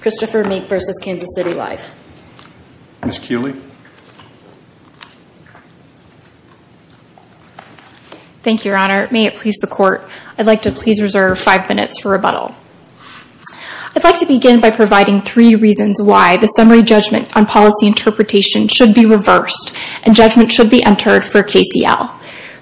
Christopher Meek v. Kansas City Life Ms. Kuehle Thank You, Your Honor, may it please the court I'd like to please reserve five minutes for rebuttal I'd like to begin by providing three reasons why the summary judgment on policy interpretation should be reversed and judgment should be entered for KCL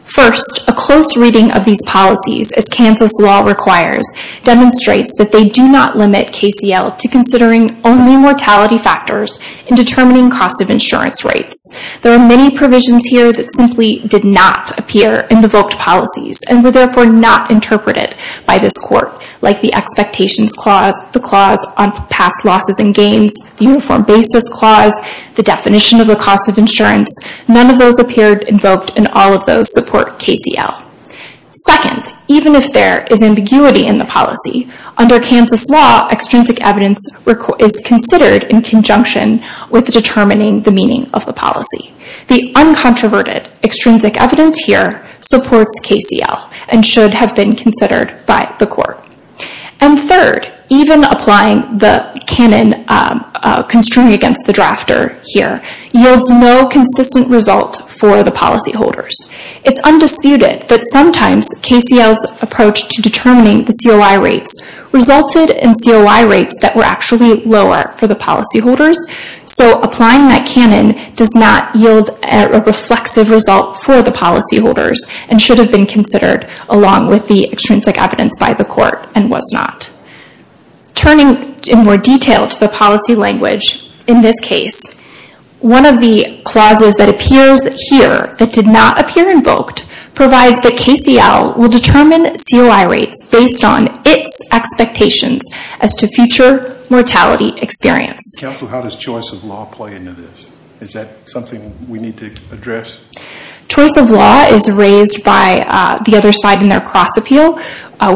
First a close reading of these policies as Kansas law requires Demonstrates that they do not limit KCL to considering only mortality factors in determining cost of insurance rates There are many provisions here that simply did not appear in the vote policies and were therefore not Interpreted by this court like the expectations clause the clause on past losses and gains Uniform basis clause the definition of the cost of insurance none of those appeared invoked and all of those support KCL Second even if there is ambiguity in the policy under Kansas law Extrinsic evidence is considered in conjunction with determining the meaning of the policy the uncontroverted Extrinsic evidence here supports KCL and should have been considered by the court and third even applying the canon Constring against the drafter here yields no consistent result for the policy holders It's undisputed that sometimes KCL's approach to determining the COI rates Resulted in COI rates that were actually lower for the policy holders So applying that canon does not yield a reflexive result for the policy holders and should have been considered Along with the extrinsic evidence by the court and was not Turning in more detail to the policy language in this case One of the clauses that appears here that did not appear invoked Provides that KCL will determine COI rates based on its Expectations as to future mortality experience council. How does choice of law play into this? Is that something we need to address? Choice of law is raised by the other side in their cross appeal.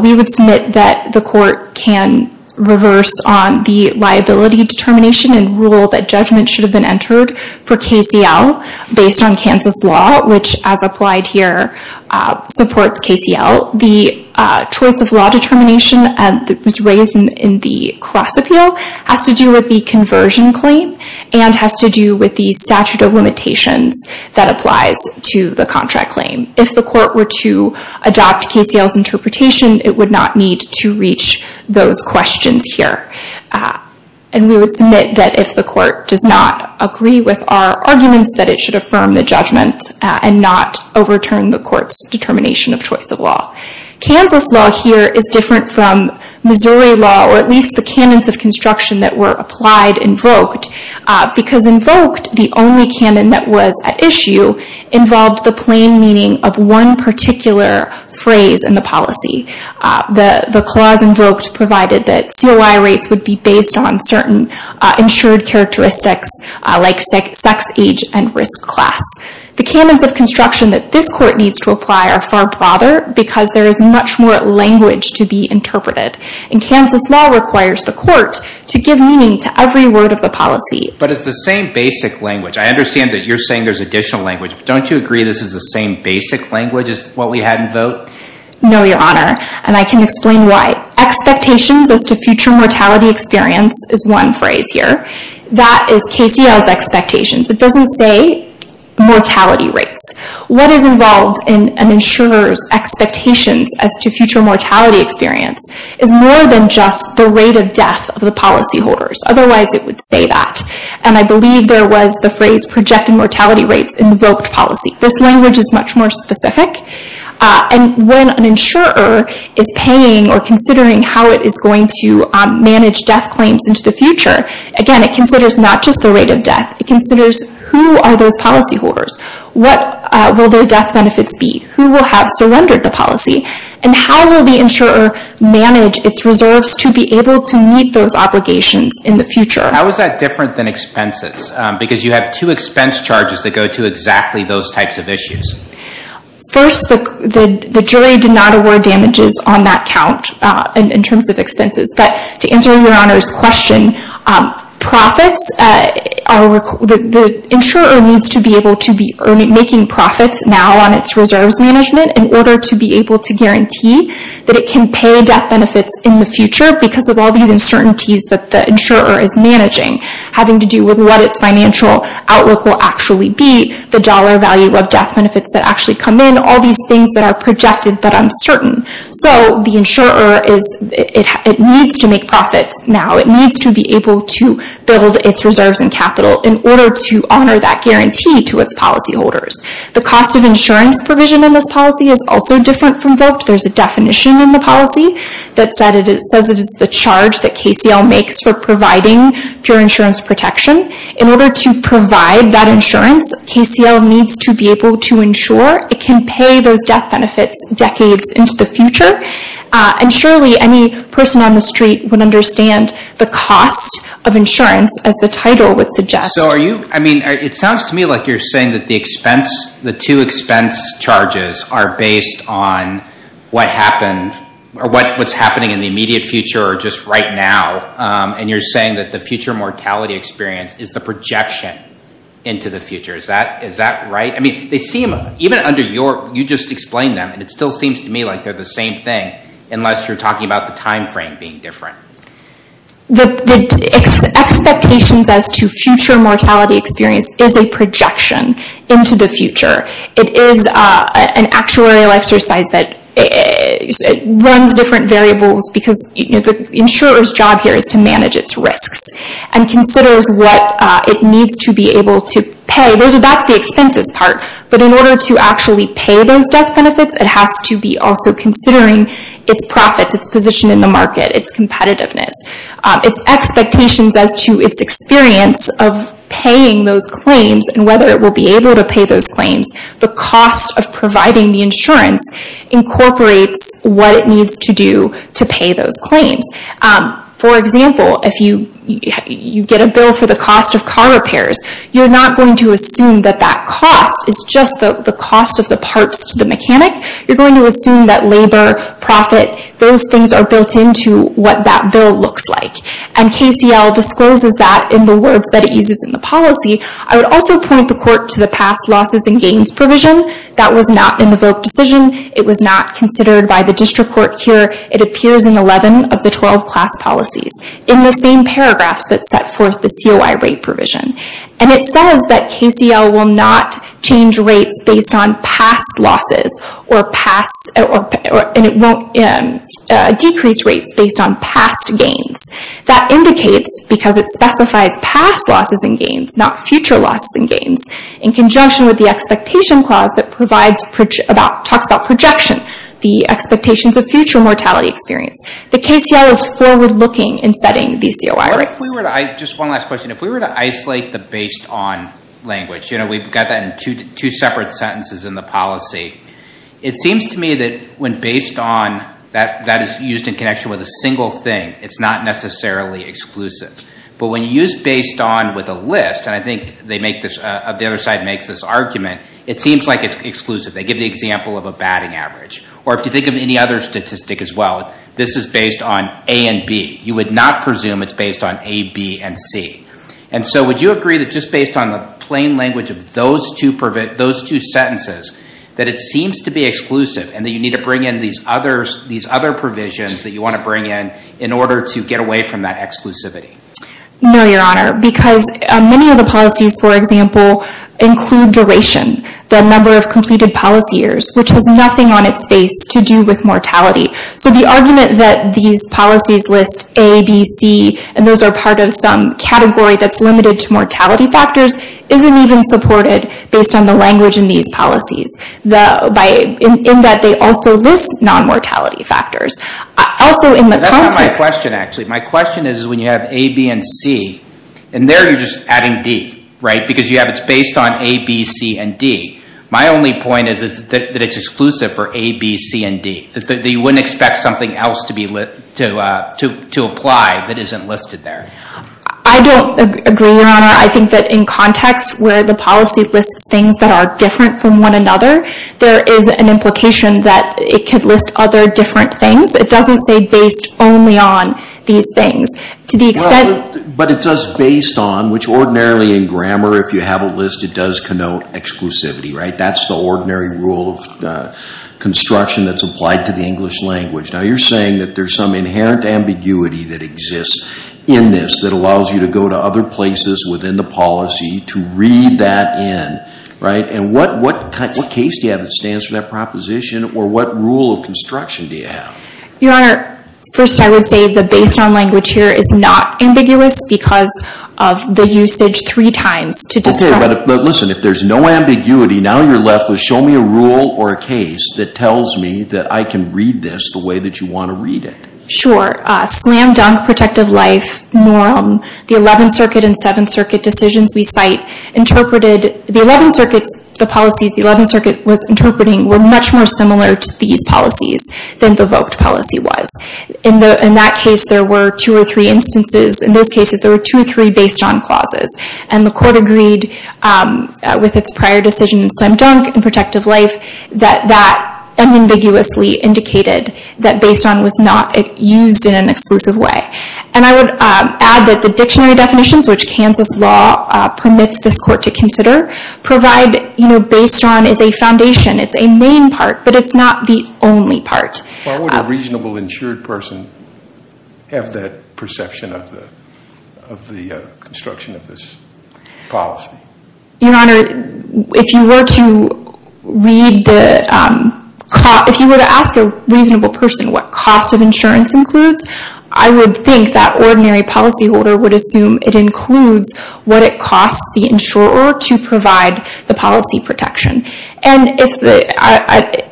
We would submit that the court can Reverse on the liability determination and rule that judgment should have been entered for KCL Based on Kansas law, which as applied here supports KCL. The choice of law determination and that was raised in the cross appeal has to do with the Conversion claim and has to do with the statute of limitations That applies to the contract claim. If the court were to adopt KCL's interpretation It would not need to reach those questions here And we would submit that if the court does not agree with our arguments that it should affirm the judgment And not overturn the court's determination of choice of law Kansas law here is different from Missouri law or at least the canons of construction that were applied invoked Because invoked the only canon that was at issue Involved the plain meaning of one particular phrase in the policy The the clause invoked provided that COI rates would be based on certain insured characteristics Like sex age and risk class The canons of construction that this court needs to apply are far broader because there is much more Language to be interpreted and Kansas law requires the court to give meaning to every word of the policy But it's the same basic language. I understand that you're saying there's additional language Don't you agree? This is the same basic language as what we had in vote? No, your honor and I can explain why Expectations as to future mortality experience is one phrase here. That is KCL's expectations. It doesn't say Mortality rates what is involved in an insurer's? Expectations as to future mortality experience is more than just the rate of death of the policyholders Otherwise, it would say that and I believe there was the phrase projected mortality rates invoked policy This language is much more specific And when an insurer is paying or considering how it is going to manage death claims into the future Again, it considers not just the rate of death. It considers who are those policyholders? What will their death benefits be who will have surrendered the policy and how will the insurer? Manage its reserves to be able to meet those obligations in the future How is that different than expenses because you have two expense charges that go to exactly those types of issues? First the jury did not award damages on that count and in terms of expenses, but to answer your honor's question profits Insurer needs to be able to be earning making profits now on its reserves management in order to be able to guarantee That it can pay death benefits in the future because of all the uncertainties that the insurer is managing Having to do with what its financial Outlook will actually be the dollar value of death benefits that actually come in all these things that are projected but uncertain So the insurer is it needs to make profits now It needs to be able to build its reserves and capital in order to honor that guarantee to its policyholders The cost of insurance provision in this policy is also different from vote There's a definition in the policy that said it says it is the charge that KCL makes for providing pure insurance protection in order to provide that insurance KCL needs to be able to ensure it can pay those death benefits decades into the future And surely any person on the street would understand the cost of insurance as the title would suggest So are you I mean, it sounds to me like you're saying that the expense the two expense charges are based on What happened or what what's happening in the immediate future or just right now? And you're saying that the future mortality experience is the projection into the future. Is that is that right? I mean they seem even under your you just explained them and it still seems to me like they're the same thing Unless you're talking about the time frame being different the Expectations as to future mortality experience is a projection into the future. It is an actuarial exercise that Runs different variables because the insurers job here is to manage its risks and Considers what it needs to be able to pay those about the expenses part But in order to actually pay those death benefits, it has to be also considering its profits its position in the market its competitiveness its expectations as to its experience of Paying those claims and whether it will be able to pay those claims the cost of providing the insurance Incorporates what it needs to do to pay those claims for example, if you You get a bill for the cost of car repairs You're not going to assume that that cost is just the cost of the parts to the mechanic You're going to assume that labor profit Those things are built into what that bill looks like and KCL discloses that in the words that it uses in the policy I would also point the court to the past losses and gains provision. That was not in the vote decision It was not considered by the district court here It appears in 11 of the 12 class policies in the same paragraphs that set forth the COI rate provision and it says that KCL will not change rates based on past losses or past or Decreased rates based on past gains that indicates because it specifies past losses and gains not future losses and gains in conjunction with the expectation clause that provides about talks about projection the Expectations of future mortality experience the KCL is forward-looking in setting these COI rates Just one last question if we were to isolate the based on language, you know We've got that in two separate sentences in the policy It seems to me that when based on that that is used in connection with a single thing. It's not necessarily Exclusive but when you use based on with a list and I think they make this of the other side makes this argument It seems like it's exclusive They give the example of a batting average or if you think of any other statistic as well This is based on a and B You would not presume it's based on a B and C And so would you agree that just based on the plain language of those to prevent those two? Sentences that it seems to be exclusive and that you need to bring in these others These other provisions that you want to bring in in order to get away from that exclusivity No, your honor because many of the policies for example Include duration the number of completed policy years, which has nothing on its face to do with mortality So the argument that these policies list ABC and those are part of some category that's limited to mortality factors Isn't even supported based on the language in these policies the by in that they also list non-mortality factors Also in my question actually, my question is when you have a B and C and there you're just adding D Right because you have it's based on a B C and D My only point is that it's exclusive for a B C and D that they wouldn't expect something else to be lit To to apply that isn't listed there. I don't agree I think that in context where the policy lists things that are different from one another There is an implication that it could list other different things It doesn't say based only on these things to the extent But it does based on which ordinarily in grammar if you have a list it does connote exclusivity, right? That's the ordinary rule of Construction that's applied to the English language now You're saying that there's some inherent ambiguity that exists in this that allows you to go to other places within the policy to read that In right and what what case do you have that stands for that proposition or what rule of construction do you have your honor? First I would say the based on language here is not ambiguous because of the usage three times to do Listen if there's no ambiguity now Show me a rule or a case that tells me that I can read this the way that you want to read it Sure slam dunk protective life Norm the 11th Circuit and 7th Circuit decisions we cite Interpreted the 11 circuits the policies the 11th Circuit was interpreting were much more similar to these policies Than the vote policy was in the in that case there were two or three instances in those cases There were two or three based on clauses and the court agreed With its prior decision in slam dunk and protective life that that Unambiguously indicated that based on was not it used in an exclusive way And I would add that the dictionary definitions which Kansas law Permits this court to consider provide you know based on is a foundation It's a main part, but it's not the only part. Why would a reasonable insured person? Have that perception of the of the construction of this Policy your honor if you were to read the If you were to ask a reasonable person what cost of insurance includes I would think that ordinary policyholder would assume it includes what it costs the insurer to provide the policy protection and if the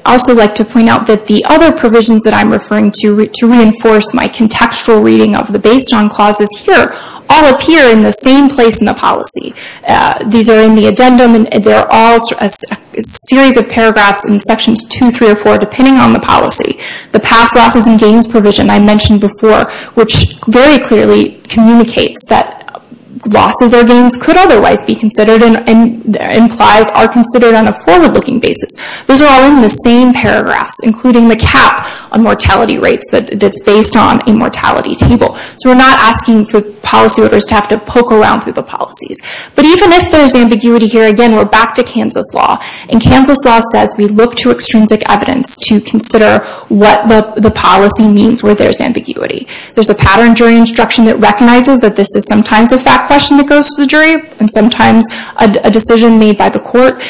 Also like to point out that the other provisions that I'm referring to to reinforce my contextual reading of the based on clauses here All appear in the same place in the policy These are in the addendum, and they're all a series of paragraphs in sections two three or four depending on the policy The past losses and gains provision I mentioned before which very clearly communicates that Losses or gains could otherwise be considered and implies are considered on a forward-looking basis Those are all in the same paragraphs including the cap on mortality rates, but that's based on a mortality table So we're not asking for policy orders to have to poke around through the policies, but even if there's ambiguity here again We're back to Kansas law and Kansas law says we look to extrinsic evidence to consider What the policy means where there's ambiguity? there's a pattern during instruction that recognizes that this is sometimes a fact question that goes to the jury and sometimes a Decision made by the court.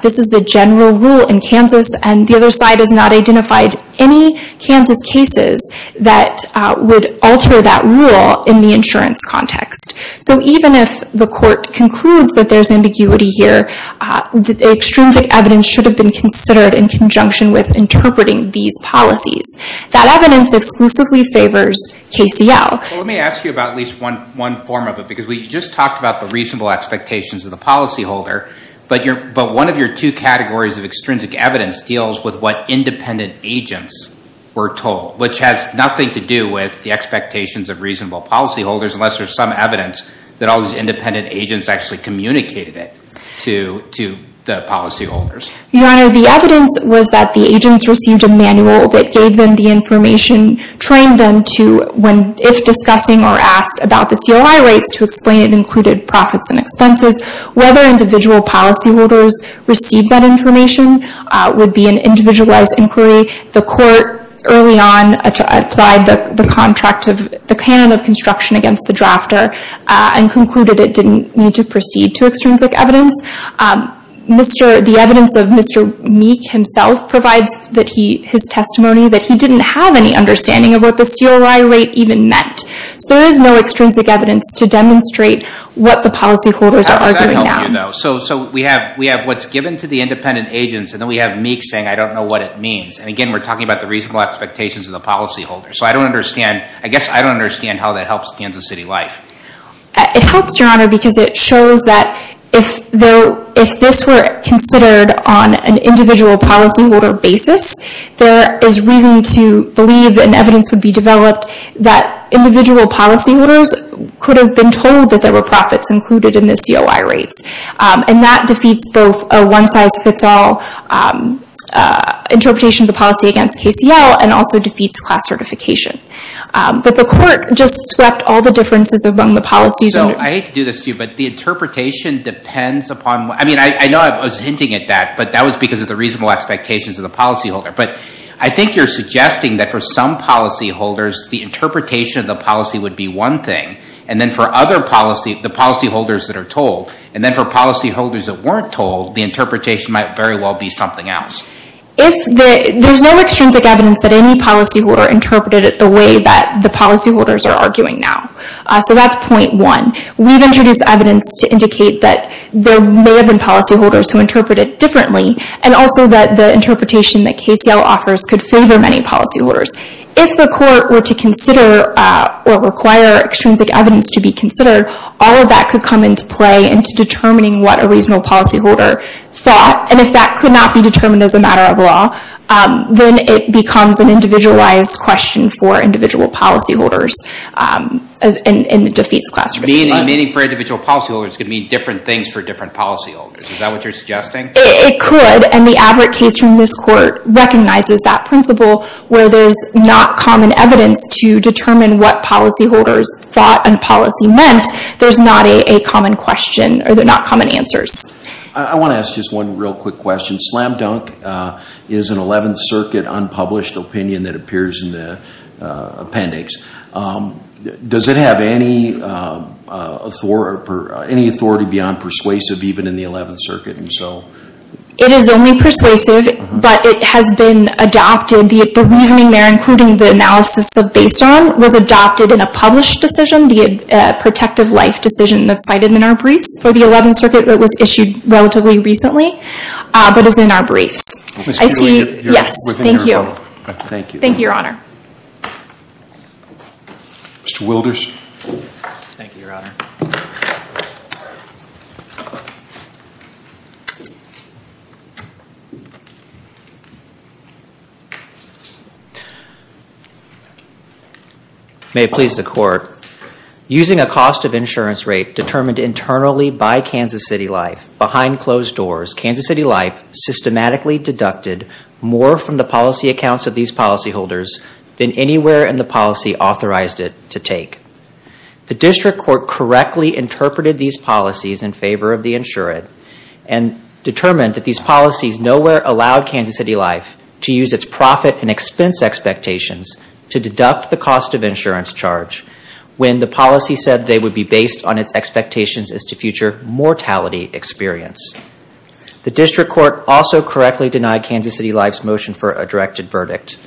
This is the general rule in Kansas and the other side has not identified any Kansas cases that would alter that rule in the insurance context So even if the court conclude that there's ambiguity here The extrinsic evidence should have been considered in conjunction with interpreting these policies that evidence exclusively favors KCL. Let me ask you about at least one one form of it because we just talked about the reasonable expectations of the policyholder But you're but one of your two categories of extrinsic evidence deals with what independent agents were told which has nothing to do with The expectations of reasonable policyholders unless there's some evidence that all these independent agents actually communicated it to to the policyholders Your honor the evidence was that the agents received a manual that gave them the information Trained them to when if discussing or asked about the COI rates to explain it included profits and expenses Whether individual policyholders received that information Would be an individualized inquiry the court early on Applied the contract of the canon of construction against the drafter and concluded it didn't need to proceed to extrinsic evidence Mr. the evidence of Mr. Meek himself provides that he his testimony that he didn't have any understanding of what the COI rate even meant So there is no extrinsic evidence to demonstrate what the policyholders are arguing No, so so we have we have what's given to the independent agents, and then we have Meek saying I don't know what it means and again. We're talking about the reasonable expectations of the policyholder So I don't understand. I guess I don't understand how that helps, Kansas City life It helps your honor because it shows that if though if this were considered on an individual policyholder basis There is reason to believe and evidence would be developed that Individual policyholders could have been told that there were profits included in the COI rates and that defeats both a one-size-fits-all Interpretation of the policy against KCL and also defeats class certification But the court just swept all the differences among the policies Oh, I hate to do this to you, but the interpretation depends upon I mean I know I was hinting at that, but that was because of the reasonable expectations of the policyholder But I think you're suggesting that for some policyholders the Interpretation of the policy would be one thing and then for other policy the policyholders that are told and then for policyholders that weren't told The interpretation might very well be something else If there's no extrinsic evidence that any policy were interpreted at the way that the policyholders are arguing now So that's point one we've introduced evidence to indicate that there may have been policyholders who interpret it differently and also that the Interpretation that KCL offers could favor many policyholders if the court were to consider Or require extrinsic evidence to be considered all of that could come into play into determining what a reasonable policyholder Thought and if that could not be determined as a matter of law Then it becomes an individualized question for individual policyholders And it defeats class meaning meaning for individual policyholders could mean different things for different policyholders Is that what you're suggesting it could and the average case from this court recognizes that principle where there's not common evidence To determine what policyholders thought and policy meant there's not a common question or they're not common answers I want to ask just one real quick question slam-dunk is an 11th Circuit unpublished opinion that appears in the Appendix Does it have any? Authority for any authority beyond persuasive even in the 11th Circuit and so it is only persuasive But it has been adopted the reasoning there including the analysis of based on was adopted in a published decision the Protective life decision that's cited in our briefs for the 11th Circuit that was issued relatively recently But is in our briefs Thank you Thank you, thank you your honor Mr. Wilders May it please the court Using a cost of insurance rate determined internally by Kansas City life behind closed doors, Kansas City life Systematically deducted more from the policy accounts of these policyholders than anywhere in the policy authorized it to take the district court correctly interpreted these policies in favor of the insured and Determined that these policies nowhere allowed Kansas City life to use its profit and expense Expectations to deduct the cost of insurance charge when the policy said they would be based on its expectations as to future mortality experience The district court also correctly denied Kansas City life's motion for a directed verdict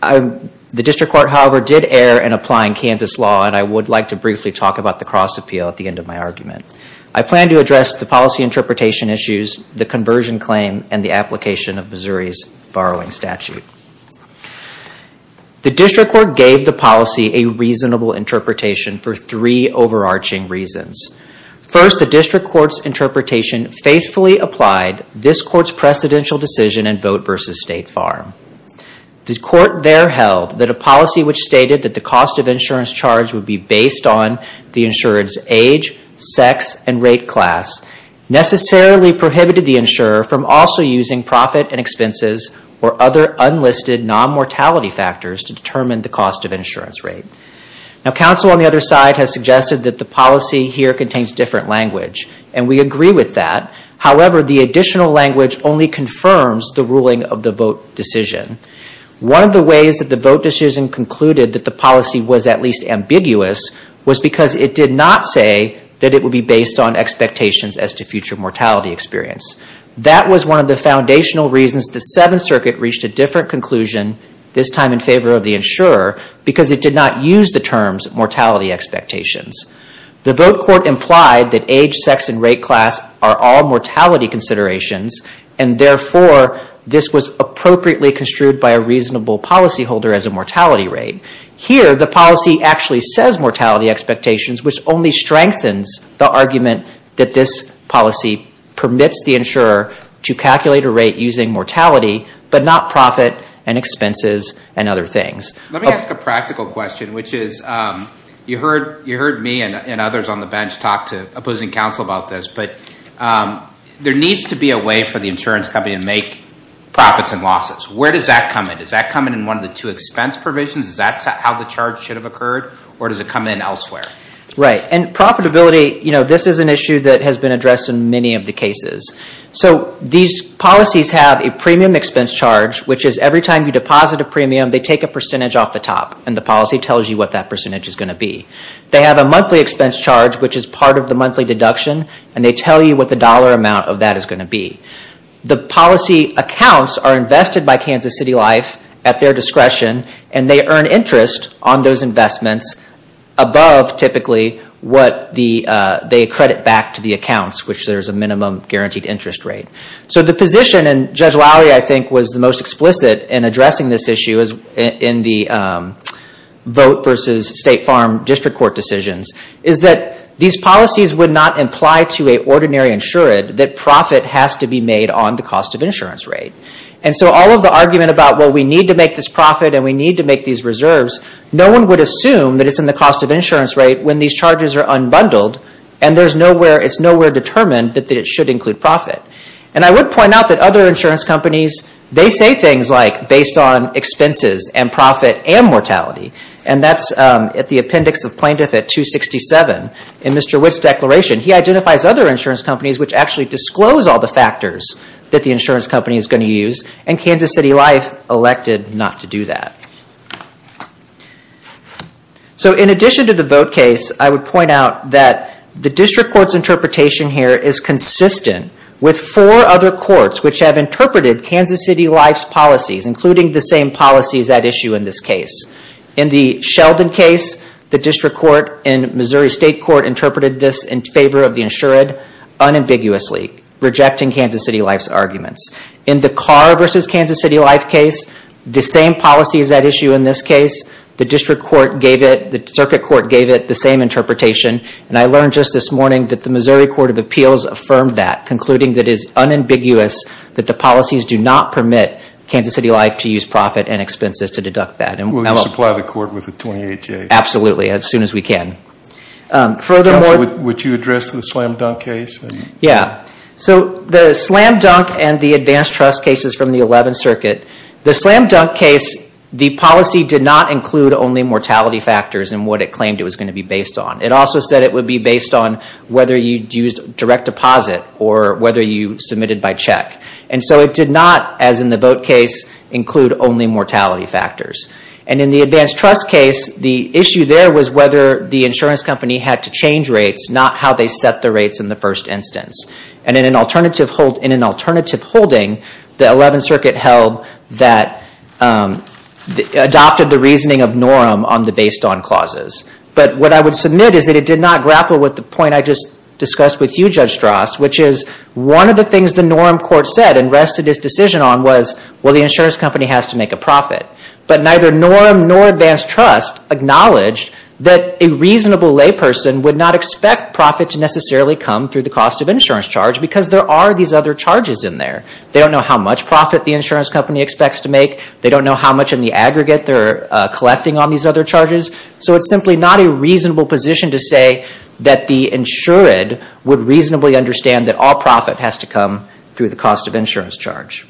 The district court however did err in applying Kansas law And I would like to briefly talk about the cross appeal at the end of my argument I plan to address the policy interpretation issues the conversion claim and the application of Missouri's borrowing statute The district court gave the policy a reasonable interpretation for three overarching reasons First the district court's interpretation faithfully applied this court's precedential decision and vote versus State Farm The court there held that a policy which stated that the cost of insurance charge would be based on the insured's age sex and rate class Necessarily prohibited the insurer from also using profit and expenses or other unlisted Non-mortality factors to determine the cost of insurance rate Now counsel on the other side has suggested that the policy here contains different language and we agree with that However, the additional language only confirms the ruling of the vote decision One of the ways that the vote decision concluded that the policy was at least ambiguous Was because it did not say that it would be based on expectations as to future mortality experience That was one of the foundational reasons the Seventh Circuit reached a different conclusion This time in favor of the insurer because it did not use the terms mortality expectations the vote court implied that age sex and rate class are all mortality considerations and Therefore this was appropriately construed by a reasonable policy holder as a mortality rate Here the policy actually says mortality expectations Which only strengthens the argument that this policy permits the insurer to calculate a rate using mortality But not profit and expenses and other things let me ask a practical question which is you heard you heard me and others on the bench talk to opposing counsel about this, but There needs to be a way for the insurance company to make Profits and losses. Where does that come in? Does that come in in one of the two expense provisions? Is that's how the charge should have occurred or does it come in elsewhere, right? And profitability, you know, this is an issue that has been addressed in many of the cases So these policies have a premium expense charge, which is every time you deposit a premium They take a percentage off the top and the policy tells you what that percentage is going to be They have a monthly expense charge Which is part of the monthly deduction and they tell you what the dollar amount of that is going to be The policy accounts are invested by Kansas City Life at their discretion and they earn interest on those investments Above typically what the they credit back to the accounts which there's a minimum guaranteed interest rate so the position and Judge Lowry, I think was the most explicit in addressing this issue is in the vote versus State Farm District Court decisions is that these policies would not imply to a Ordinary insured that profit has to be made on the cost of insurance rate And so all of the argument about what we need to make this profit and we need to make these reserves No one would assume that it's in the cost of insurance rate when these charges are unbundled and there's nowhere It's nowhere determined that it should include profit and I would point out that other insurance companies they say things like based on expenses and profit and mortality and that's at the appendix of plaintiff at 267 in mr. Witt's declaration he identifies other insurance companies which actually disclose all the factors that the insurance company is going to use and Kansas City Life elected not to do that So in addition to the vote case I would point out that the district courts interpretation here is Consistent with four other courts which have interpreted Kansas City Life's policies including the same policies that issue in this case in The Sheldon case the district court in Missouri State Court interpreted this in favor of the insured Unambiguously rejecting Kansas City Life's arguments in the car versus Kansas City Life case The same policy is that issue in this case the district court gave it the circuit court gave it the same Interpretation and I learned just this morning that the Missouri Court of Appeals affirmed that concluding that is unambiguous That the policies do not permit Kansas City Life to use profit and expenses to deduct that and we'll apply the court with the 28 J. Absolutely as soon as we can Further would you address the slam-dunk case? Yeah, so the slam-dunk and the advanced trust cases from the 11th Circuit the slam-dunk case The policy did not include only mortality factors and what it claimed It was going to be based on it also said it would be based on whether you'd used direct deposit Or whether you submitted by check and so it did not as in the vote case Include only mortality factors and in the advanced trust case the issue there was whether the insurance company had to change rates not how they set the rates in the first instance and in an alternative hold in an alternative holding the 11th Circuit held that Adopted the reasoning of norm on the based on clauses But what I would submit is that it did not grapple with the point I just discussed with you judge Strauss Which is one of the things the norm court said and rested his decision on was well The insurance company has to make a profit but neither norm nor advanced trust Acknowledged that a reasonable layperson would not expect profit to necessarily come through the cost of insurance charge because there are these other charges in There they don't know how much profit the insurance company expects to make they don't know how much in the aggregate They're collecting on these other charges So it's simply not a reasonable position to say that the insured Would reasonably understand that all profit has to come through the cost of insurance charge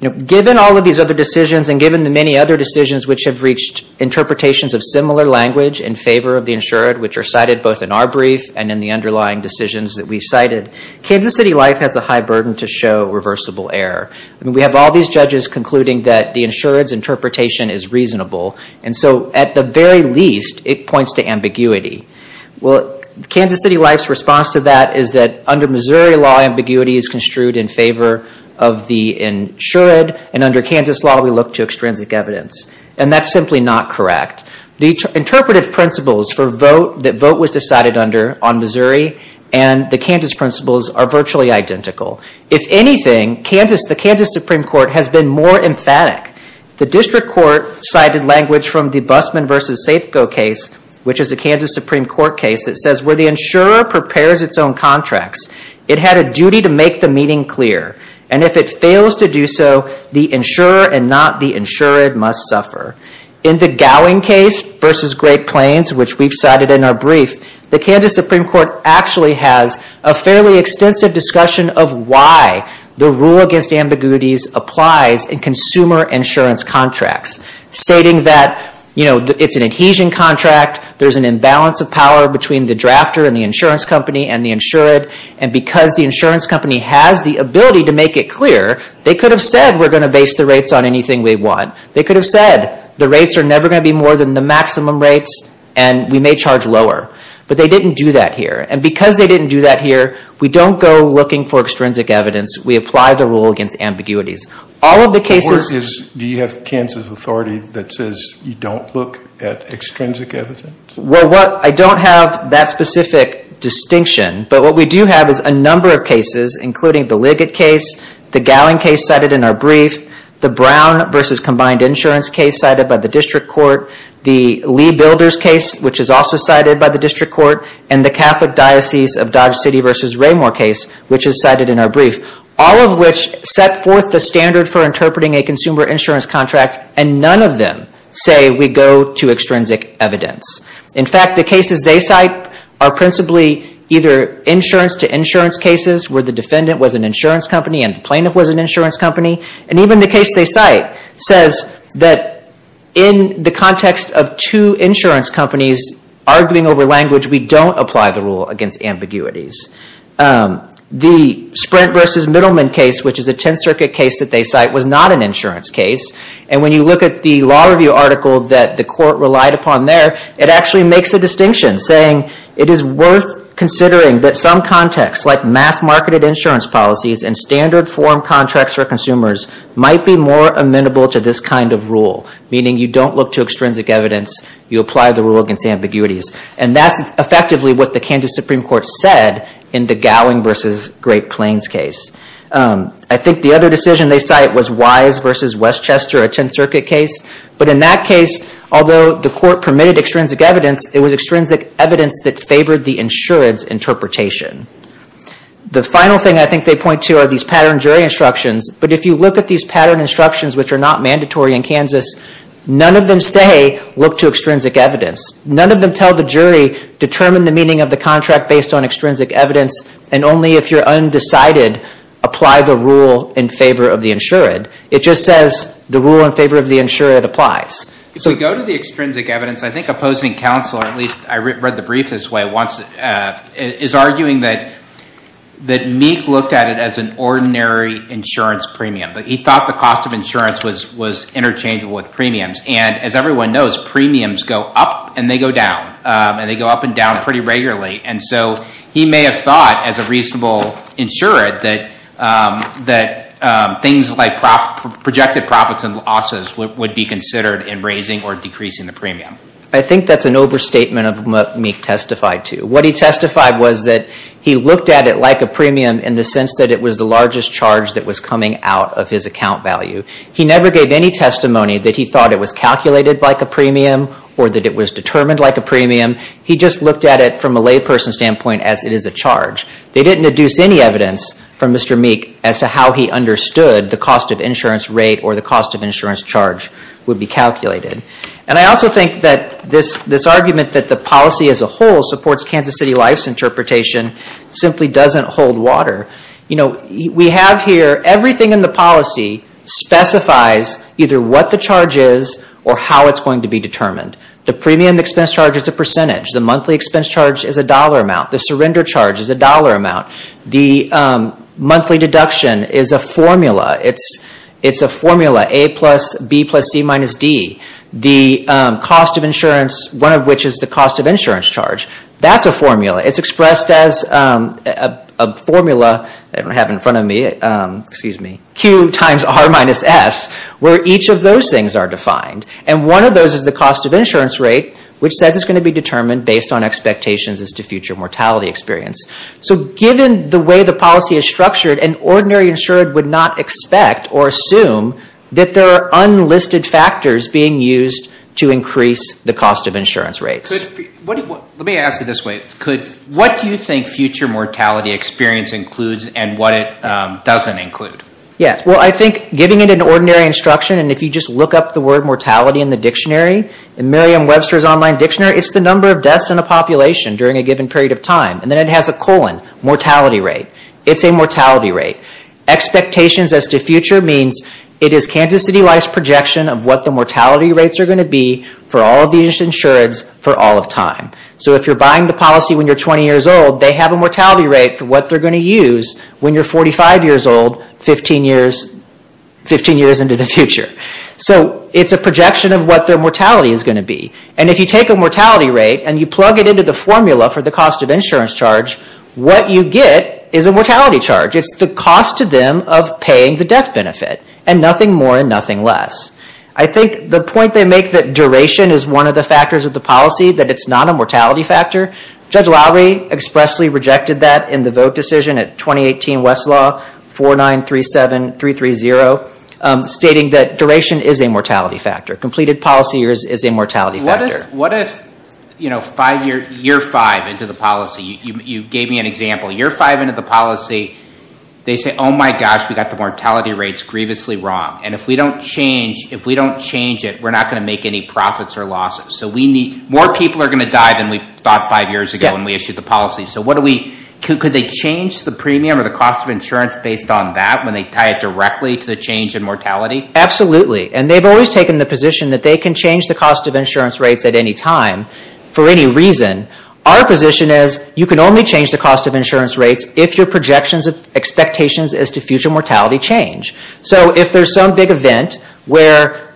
You know given all of these other decisions and given the many other decisions which have reached Interpretations of similar language in favor of the insured which are cited both in our brief and in the underlying decisions that we've cited Kansas City life has a high burden to show reversible error I mean we have all these judges concluding that the insurance interpretation is reasonable And so at the very least it points to ambiguity Well, Kansas City life's response to that is that under Missouri law ambiguity is construed in favor of the insured And under Kansas law, we look to extrinsic evidence and that's simply not correct the interpretive principles for vote that vote was decided under on Missouri and The Kansas principles are virtually identical if anything, Kansas The Kansas Supreme Court has been more emphatic the district court cited language from the busman versus safeco case Which is a Kansas Supreme Court case that says where the insurer prepares its own contracts It had a duty to make the meeting clear And if it fails to do so the insurer and not the insured must suffer in the gowing case versus Great Plains Which we've cited in our brief the Kansas Supreme Court actually has a fairly extensive discussion of why? The rule against ambiguities applies in consumer insurance contracts Stating that you know, it's an adhesion contract There's an imbalance of power between the drafter and the insurance company and the insured and because the insurance company has the ability to make It clear they could have said we're going to base the rates on anything We want they could have said the rates are never going to be more than the maximum rates and we may charge lower But they didn't do that here and because they didn't do that here. We don't go looking for extrinsic evidence We apply the rule against ambiguities all of the cases. Do you have Kansas Authority that says you don't look at extrinsic evidence? Well what I don't have that specific distinction But what we do have is a number of cases including the Liggett case The gowing case cited in our brief the Brown versus combined insurance case cited by the district court the Lee builders case Which is also cited by the district court and the Catholic Diocese of Dodge City versus Raymore case which is cited in our brief all of which set forth the standard for interpreting a consumer insurance contract and none of them say we Go to extrinsic evidence In fact, the cases they cite are principally either Insurance to insurance cases where the defendant was an insurance company and plaintiff was an insurance company and even the case They cite says that in the context of two insurance companies Arguing over language. We don't apply the rule against ambiguities The sprint versus middleman case Which is a Tenth Circuit case that they cite was not an insurance case And when you look at the law review article that the court relied upon there It actually makes a distinction saying it is worth Considering that some contexts like mass marketed insurance policies and standard form contracts for consumers Might be more amenable to this kind of rule meaning you don't look to extrinsic evidence You apply the rule against ambiguities and that's effectively what the Kansas Supreme Court said in the Gowing versus Great Plains case I think the other decision they cite was wise versus Westchester a Tenth Circuit case But in that case, although the court permitted extrinsic evidence, it was extrinsic evidence that favored the insurance interpretation The final thing I think they point to are these pattern jury instructions But if you look at these pattern instructions, which are not mandatory in Kansas None of them say look to extrinsic evidence None of them tell the jury determine the meaning of the contract based on extrinsic evidence and only if you're undecided Apply the rule in favor of the insured. It just says the rule in favor of the insured applies So go to the extrinsic evidence. I think opposing counsel or at least I read the brief this way once is arguing that That Meek looked at it as an ordinary insurance premium But he thought the cost of insurance was was Interchangeable with premiums and as everyone knows premiums go up and they go down And they go up and down pretty regularly. And so he may have thought as a reasonable insured that that things like Projected profits and losses would be considered in raising or decreasing the premium I think that's an overstatement of what Meek testified to what he testified was that He looked at it like a premium in the sense that it was the largest charge that was coming out of his account value He never gave any testimony that he thought it was calculated like a premium or that it was determined like a premium He just looked at it from a layperson standpoint as it is a charge. They didn't deduce any evidence from mr Meek as to how he understood the cost of insurance rate or the cost of insurance charge would be calculated And I also think that this this argument that the policy as a whole supports Kansas City life's interpretation Simply doesn't hold water, you know, we have here everything in the policy Specifies either what the charge is or how it's going to be determined the premium expense charge is a percentage the monthly expense charge is a dollar amount the surrender charge is a dollar amount the Monthly deduction is a formula. It's it's a formula a plus B plus C minus D The cost of insurance one of which is the cost of insurance charge. That's a formula. It's expressed as a Formula, I don't have in front of me Excuse me Q times R minus S Where each of those things are defined and one of those is the cost of insurance rate Which says it's going to be determined based on expectations as to future mortality experience so given the way the policy is structured and ordinary insured would not expect or assume that there are Unlisted factors being used to increase the cost of insurance rates Let me ask you this way could what do you think future mortality experience includes and what it doesn't include? Yeah, well, I think giving it an ordinary instruction and if you just look up the word mortality in the dictionary in Miriam Webster's online dictionary It's the number of deaths in a population during a given period of time and then it has a colon mortality rate It's a mortality rate Expectations as to future means it is Kansas City life's projection of what the mortality rates are going to be for all of these insureds For all of time So if you're buying the policy when you're 20 years old They have a mortality rate for what they're going to use when you're 45 years old 15 years 15 years into the future so it's a projection of what their mortality is going to be and if you take a Mortality rate and you plug it into the formula for the cost of insurance charge. What you get is a mortality charge It's the cost to them of paying the death benefit and nothing more and nothing less I think the point they make that duration is one of the factors of the policy that it's not a mortality factor Judge Lowry expressly rejected that in the vote decision at 2018 Westlaw 4937 3 3 0 Stating that duration is a mortality factor completed policy years is a mortality. What is what if you know? You're five into the policy you gave me an example you're five into the policy they say oh my gosh We got the mortality rates grievously wrong And if we don't change if we don't change it, we're not going to make any profits or losses So we need more people are going to die than we thought five years ago when we issued the policy So what do we? Could they change the premium or the cost of insurance based on that when they tie it directly to the change in mortality? Absolutely, and they've always taken the position that they can change the cost of insurance rates at any time for any reason Our position is you can only change the cost of insurance rates if your projections of expectations as to future mortality change so if there's some big event where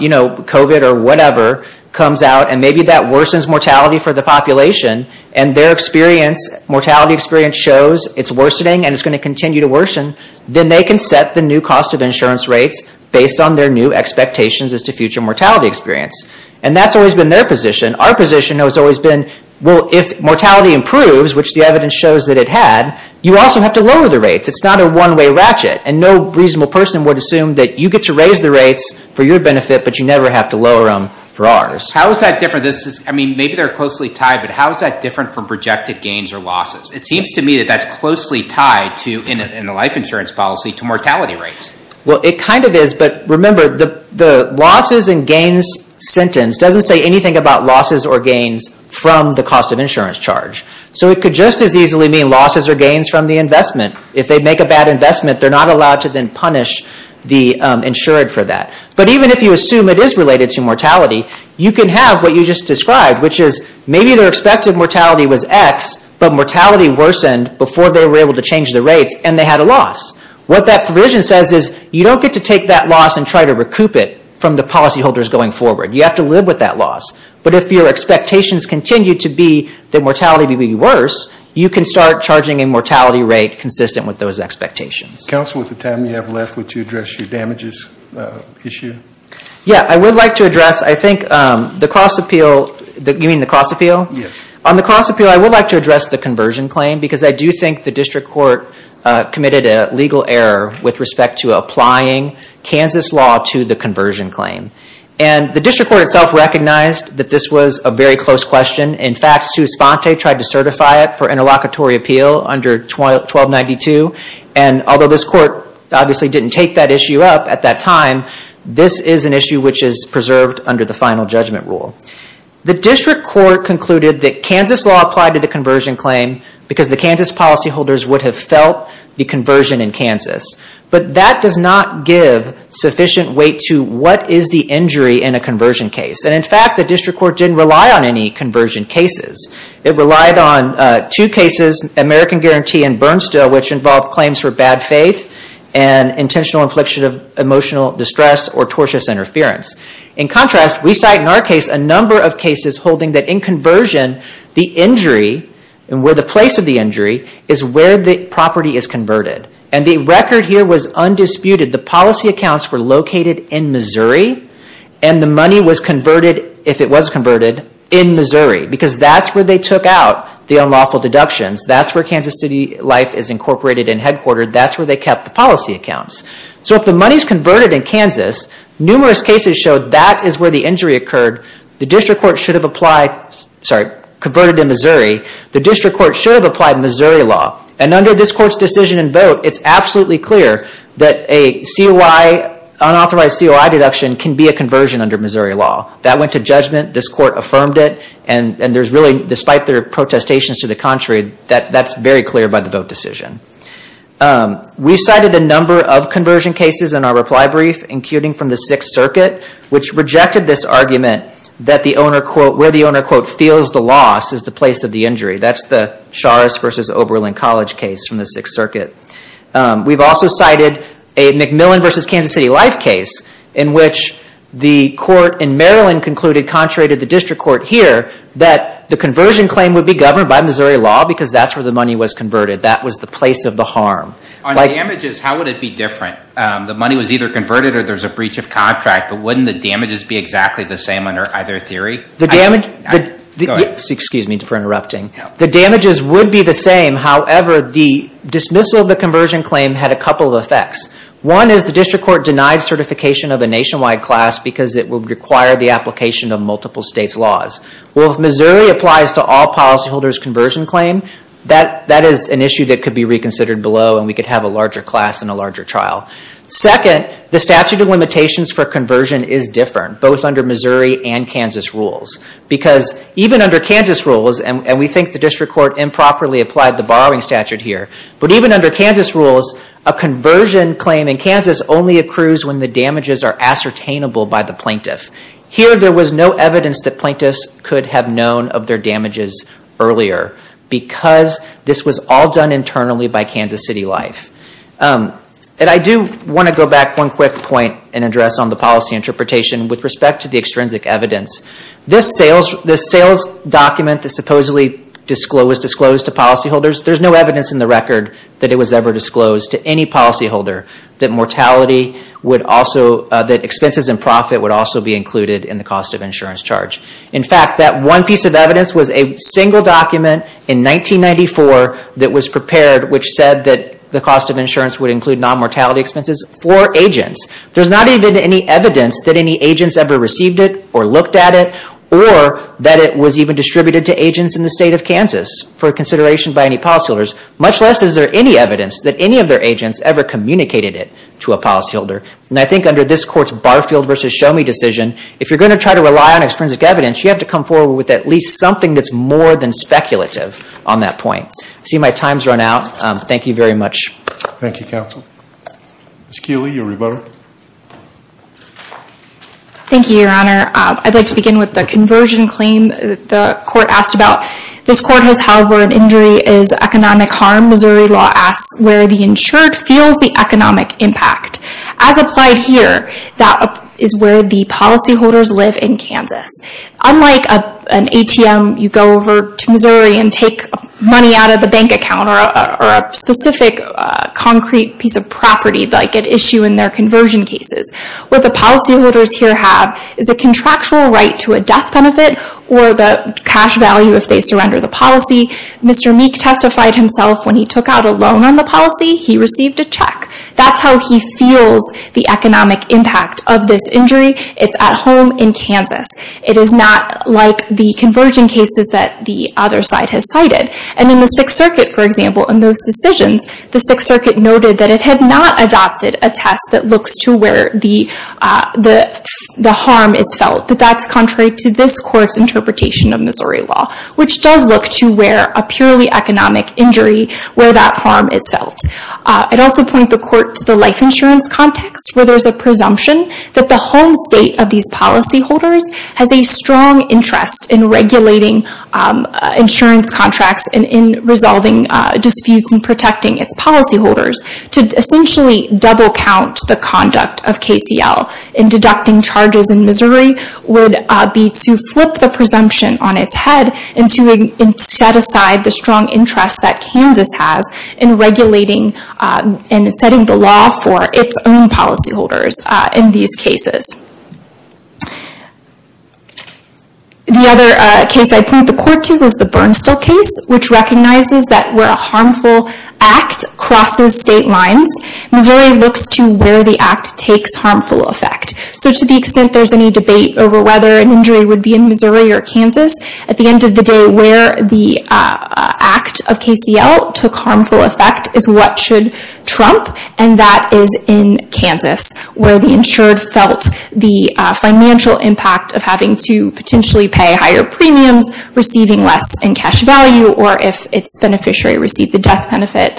You know kovat or whatever comes out and maybe that worsens mortality for the population and their experience Mortality experience shows it's worsening and it's going to continue to worsen Then they can set the new cost of insurance rates based on their new expectations as to future mortality experience And that's always been their position our position has always been well if mortality improves Which the evidence shows that it had you also have to lower the rates It's not a one-way ratchet and no reasonable person would assume that you get to raise the rates for your benefit But you never have to lower them for ours. How is that different? This is I mean, maybe they're closely tied, but how is that different from projected gains or losses? It seems to me that that's closely tied to in the life insurance policy to mortality rates Well, it kind of is but remember the the losses and gains Sentence doesn't say anything about losses or gains from the cost of insurance charge So it could just as easily mean losses or gains from the investment if they make a bad investment They're not allowed to then punish the insured for that But even if you assume it is related to mortality you can have what you just described which is maybe their expected mortality was X But mortality worsened before they were able to change the rates and they had a loss What that provision says is you don't get to take that loss and try to recoup it from the policy holders going forward you have To live with that loss But if your expectations continue to be that mortality to be worse You can start charging a mortality rate consistent with those expectations counsel with the time you have left with to address your damages Issue. Yeah, I would like to address. I think the cross appeal that you mean the cross appeal Yes on the cross appeal. I would like to address the conversion claim because I do think the district court Committed a legal error with respect to applying Kansas law to the conversion claim and the district court itself recognized that this was a very close question in fact Sue Sponte tried to certify it for interlocutory appeal under 1292 and Although this court obviously didn't take that issue up at that time This is an issue which is preserved under the final judgment rule The district court concluded that Kansas law applied to the conversion claim because the Kansas policyholders would have felt the conversion in Kansas But that does not give sufficient weight to what is the injury in a conversion case? And in fact, the district court didn't rely on any conversion cases it relied on two cases American Guarantee and Bernstein which involved claims for bad faith and Intentional infliction of emotional distress or tortuous interference in contrast we cite in our case a number of cases holding that in conversion the injury and where the place of the injury is where the property is converted and the record here was Undisputed the policy accounts were located in, Missouri And the money was converted if it was converted in Missouri because that's where they took out the unlawful deductions That's where Kansas City life is incorporated in headquartered. That's where they kept the policy accounts So if the money's converted in Kansas numerous cases showed that is where the injury occurred the district court should have applied Sorry converted in Missouri the district court should have applied Missouri law and under this court's decision and vote It's absolutely clear that a COI Unauthorized COI deduction can be a conversion under Missouri law that went to judgment this court affirmed it and and there's really despite their Protestations to the contrary that that's very clear by the vote decision We've cited a number of conversion cases in our reply brief including from the Sixth Circuit Which rejected this argument that the owner quote where the owner quote feels the loss is the place of the injury That's the Charas versus Oberlin College case from the Sixth Circuit we've also cited a Macmillan versus Kansas City life case in which the court in Maryland concluded contrary to the district court here that the Conversion claim would be governed by Missouri law because that's where the money was converted. That was the place of the harm I like images. How would it be different? The money was either converted or there's a breach of contract But wouldn't the damages be exactly the same under either theory the damage? Excuse me for interrupting the damages would be the same However, the dismissal of the conversion claim had a couple of effects One is the district court denied certification of a nationwide class because it will require the application of multiple states laws Well, if Missouri applies to all policyholders conversion claim that that is an issue that could be reconsidered below and we could have a larger class in a larger trial Second the statute of limitations for conversion is different both under Missouri and Kansas rules Because even under Kansas rules and we think the district court improperly applied the borrowing statute here but even under Kansas rules a Conversion claim in Kansas only accrues when the damages are ascertainable by the plaintiff here There was no evidence that plaintiffs could have known of their damages earlier Because this was all done internally by Kansas City Life And I do want to go back one quick point and address on the policy interpretation with respect to the extrinsic evidence This sales the sales document that supposedly disclosed disclosed to policyholders There's no evidence in the record that it was ever disclosed to any policyholder that mortality Would also that expenses and profit would also be included in the cost of insurance charge In fact that one piece of evidence was a single document in 1994 that was prepared which said that the cost of insurance would include non-mortality expenses for agents there's not even any evidence that any agents ever received it or looked at it or That it was even distributed to agents in the state of Kansas for consideration by any policyholders Much less is there any evidence that any of their agents ever communicated it to a policyholder? And I think under this courts Barfield versus show me decision if you're going to try to rely on extrinsic evidence You have to come forward with at least something that's more than speculative on that point. See my times run out Thank you very much. Thank you counsel Miss Keely your rebuttal Thank you your honor I'd like to begin with the conversion claim the court asked about this court has however an injury is Economic harm, Missouri law asks where the insured feels the economic impact as applied here That is where the policyholders live in Kansas Unlike a an ATM you go over to Missouri and take money out of the bank account or a specific Concrete piece of property like an issue in their conversion cases What the policyholders here have is a contractual right to a death benefit or the cash value if they surrender the policy Mr. Meek testified himself when he took out a loan on the policy. He received a check That's how he feels the economic impact of this injury. It's at home in Kansas It is not like the conversion cases that the other side has cited and in the Sixth Circuit for example in those decisions the Sixth Circuit noted that it had not adopted a test that looks to where the The the harm is felt but that's contrary to this court's interpretation of Missouri law Which does look to where a purely economic injury where that harm is felt I'd also point the court to the life insurance context where there's a presumption that the home state of these Policyholders has a strong interest in regulating insurance contracts and in resolving disputes and protecting its policyholders to essentially Double count the conduct of KCL in deducting charges in Missouri would be to flip the presumption on its head And to set aside the strong interest that Kansas has in Regulating and setting the law for its own policyholders in these cases The other case I point the court to is the Bernstall case which recognizes that where a harmful act Crosses state lines. Missouri looks to where the act takes harmful effect so to the extent there's any debate over whether an injury would be in Missouri or Kansas at the end of the day where the Act of KCL took harmful effect is what should trump and that is in Kansas where the insured felt The financial impact of having to potentially pay higher premiums Receiving less in cash value or if its beneficiary received the death benefit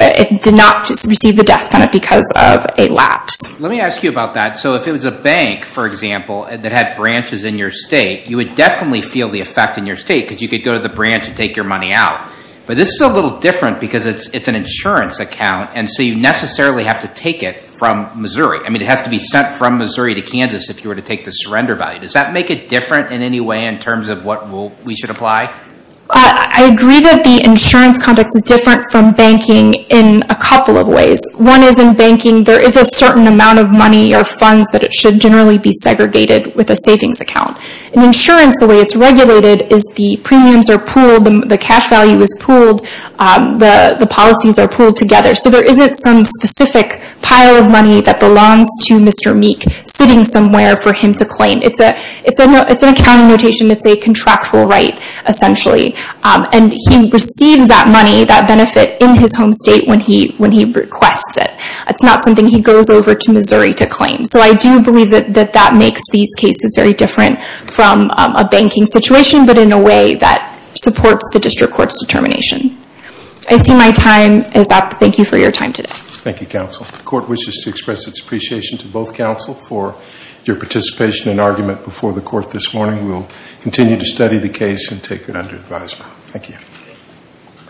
It did not receive the death benefit because of a lapse. Let me ask you about that So if it was a bank for example that had branches in your state You would definitely feel the effect in your state because you could go to the branch and take your money out But this is a little different because it's it's an insurance account and so you necessarily have to take it from Missouri I mean it has to be sent from Missouri to Kansas if you were to take the surrender value Does that make it different in any way in terms of what we should apply? I agree that the insurance context is different from banking in a couple of ways. One is in banking There is a certain amount of money or funds that it should generally be segregated with a savings account In insurance the way it's regulated is the premiums are pooled and the cash value is pooled The the policies are pooled together. So there isn't some specific pile of money that belongs to Mr Meek sitting somewhere for him to claim. It's a it's a it's an accounting notation It's a contractual right essentially and he receives that money that benefit in his home state when he when he requests it It's not something he goes over to Missouri to claim So I do believe that that makes these cases very different from a banking situation But in a way that supports the district courts determination. I see my time is up. Thank you for your time today Thank you Counsel the court wishes to express its appreciation to both counsel for your participation and argument before the court this morning We'll continue to study the case and take it under advisement. Thank you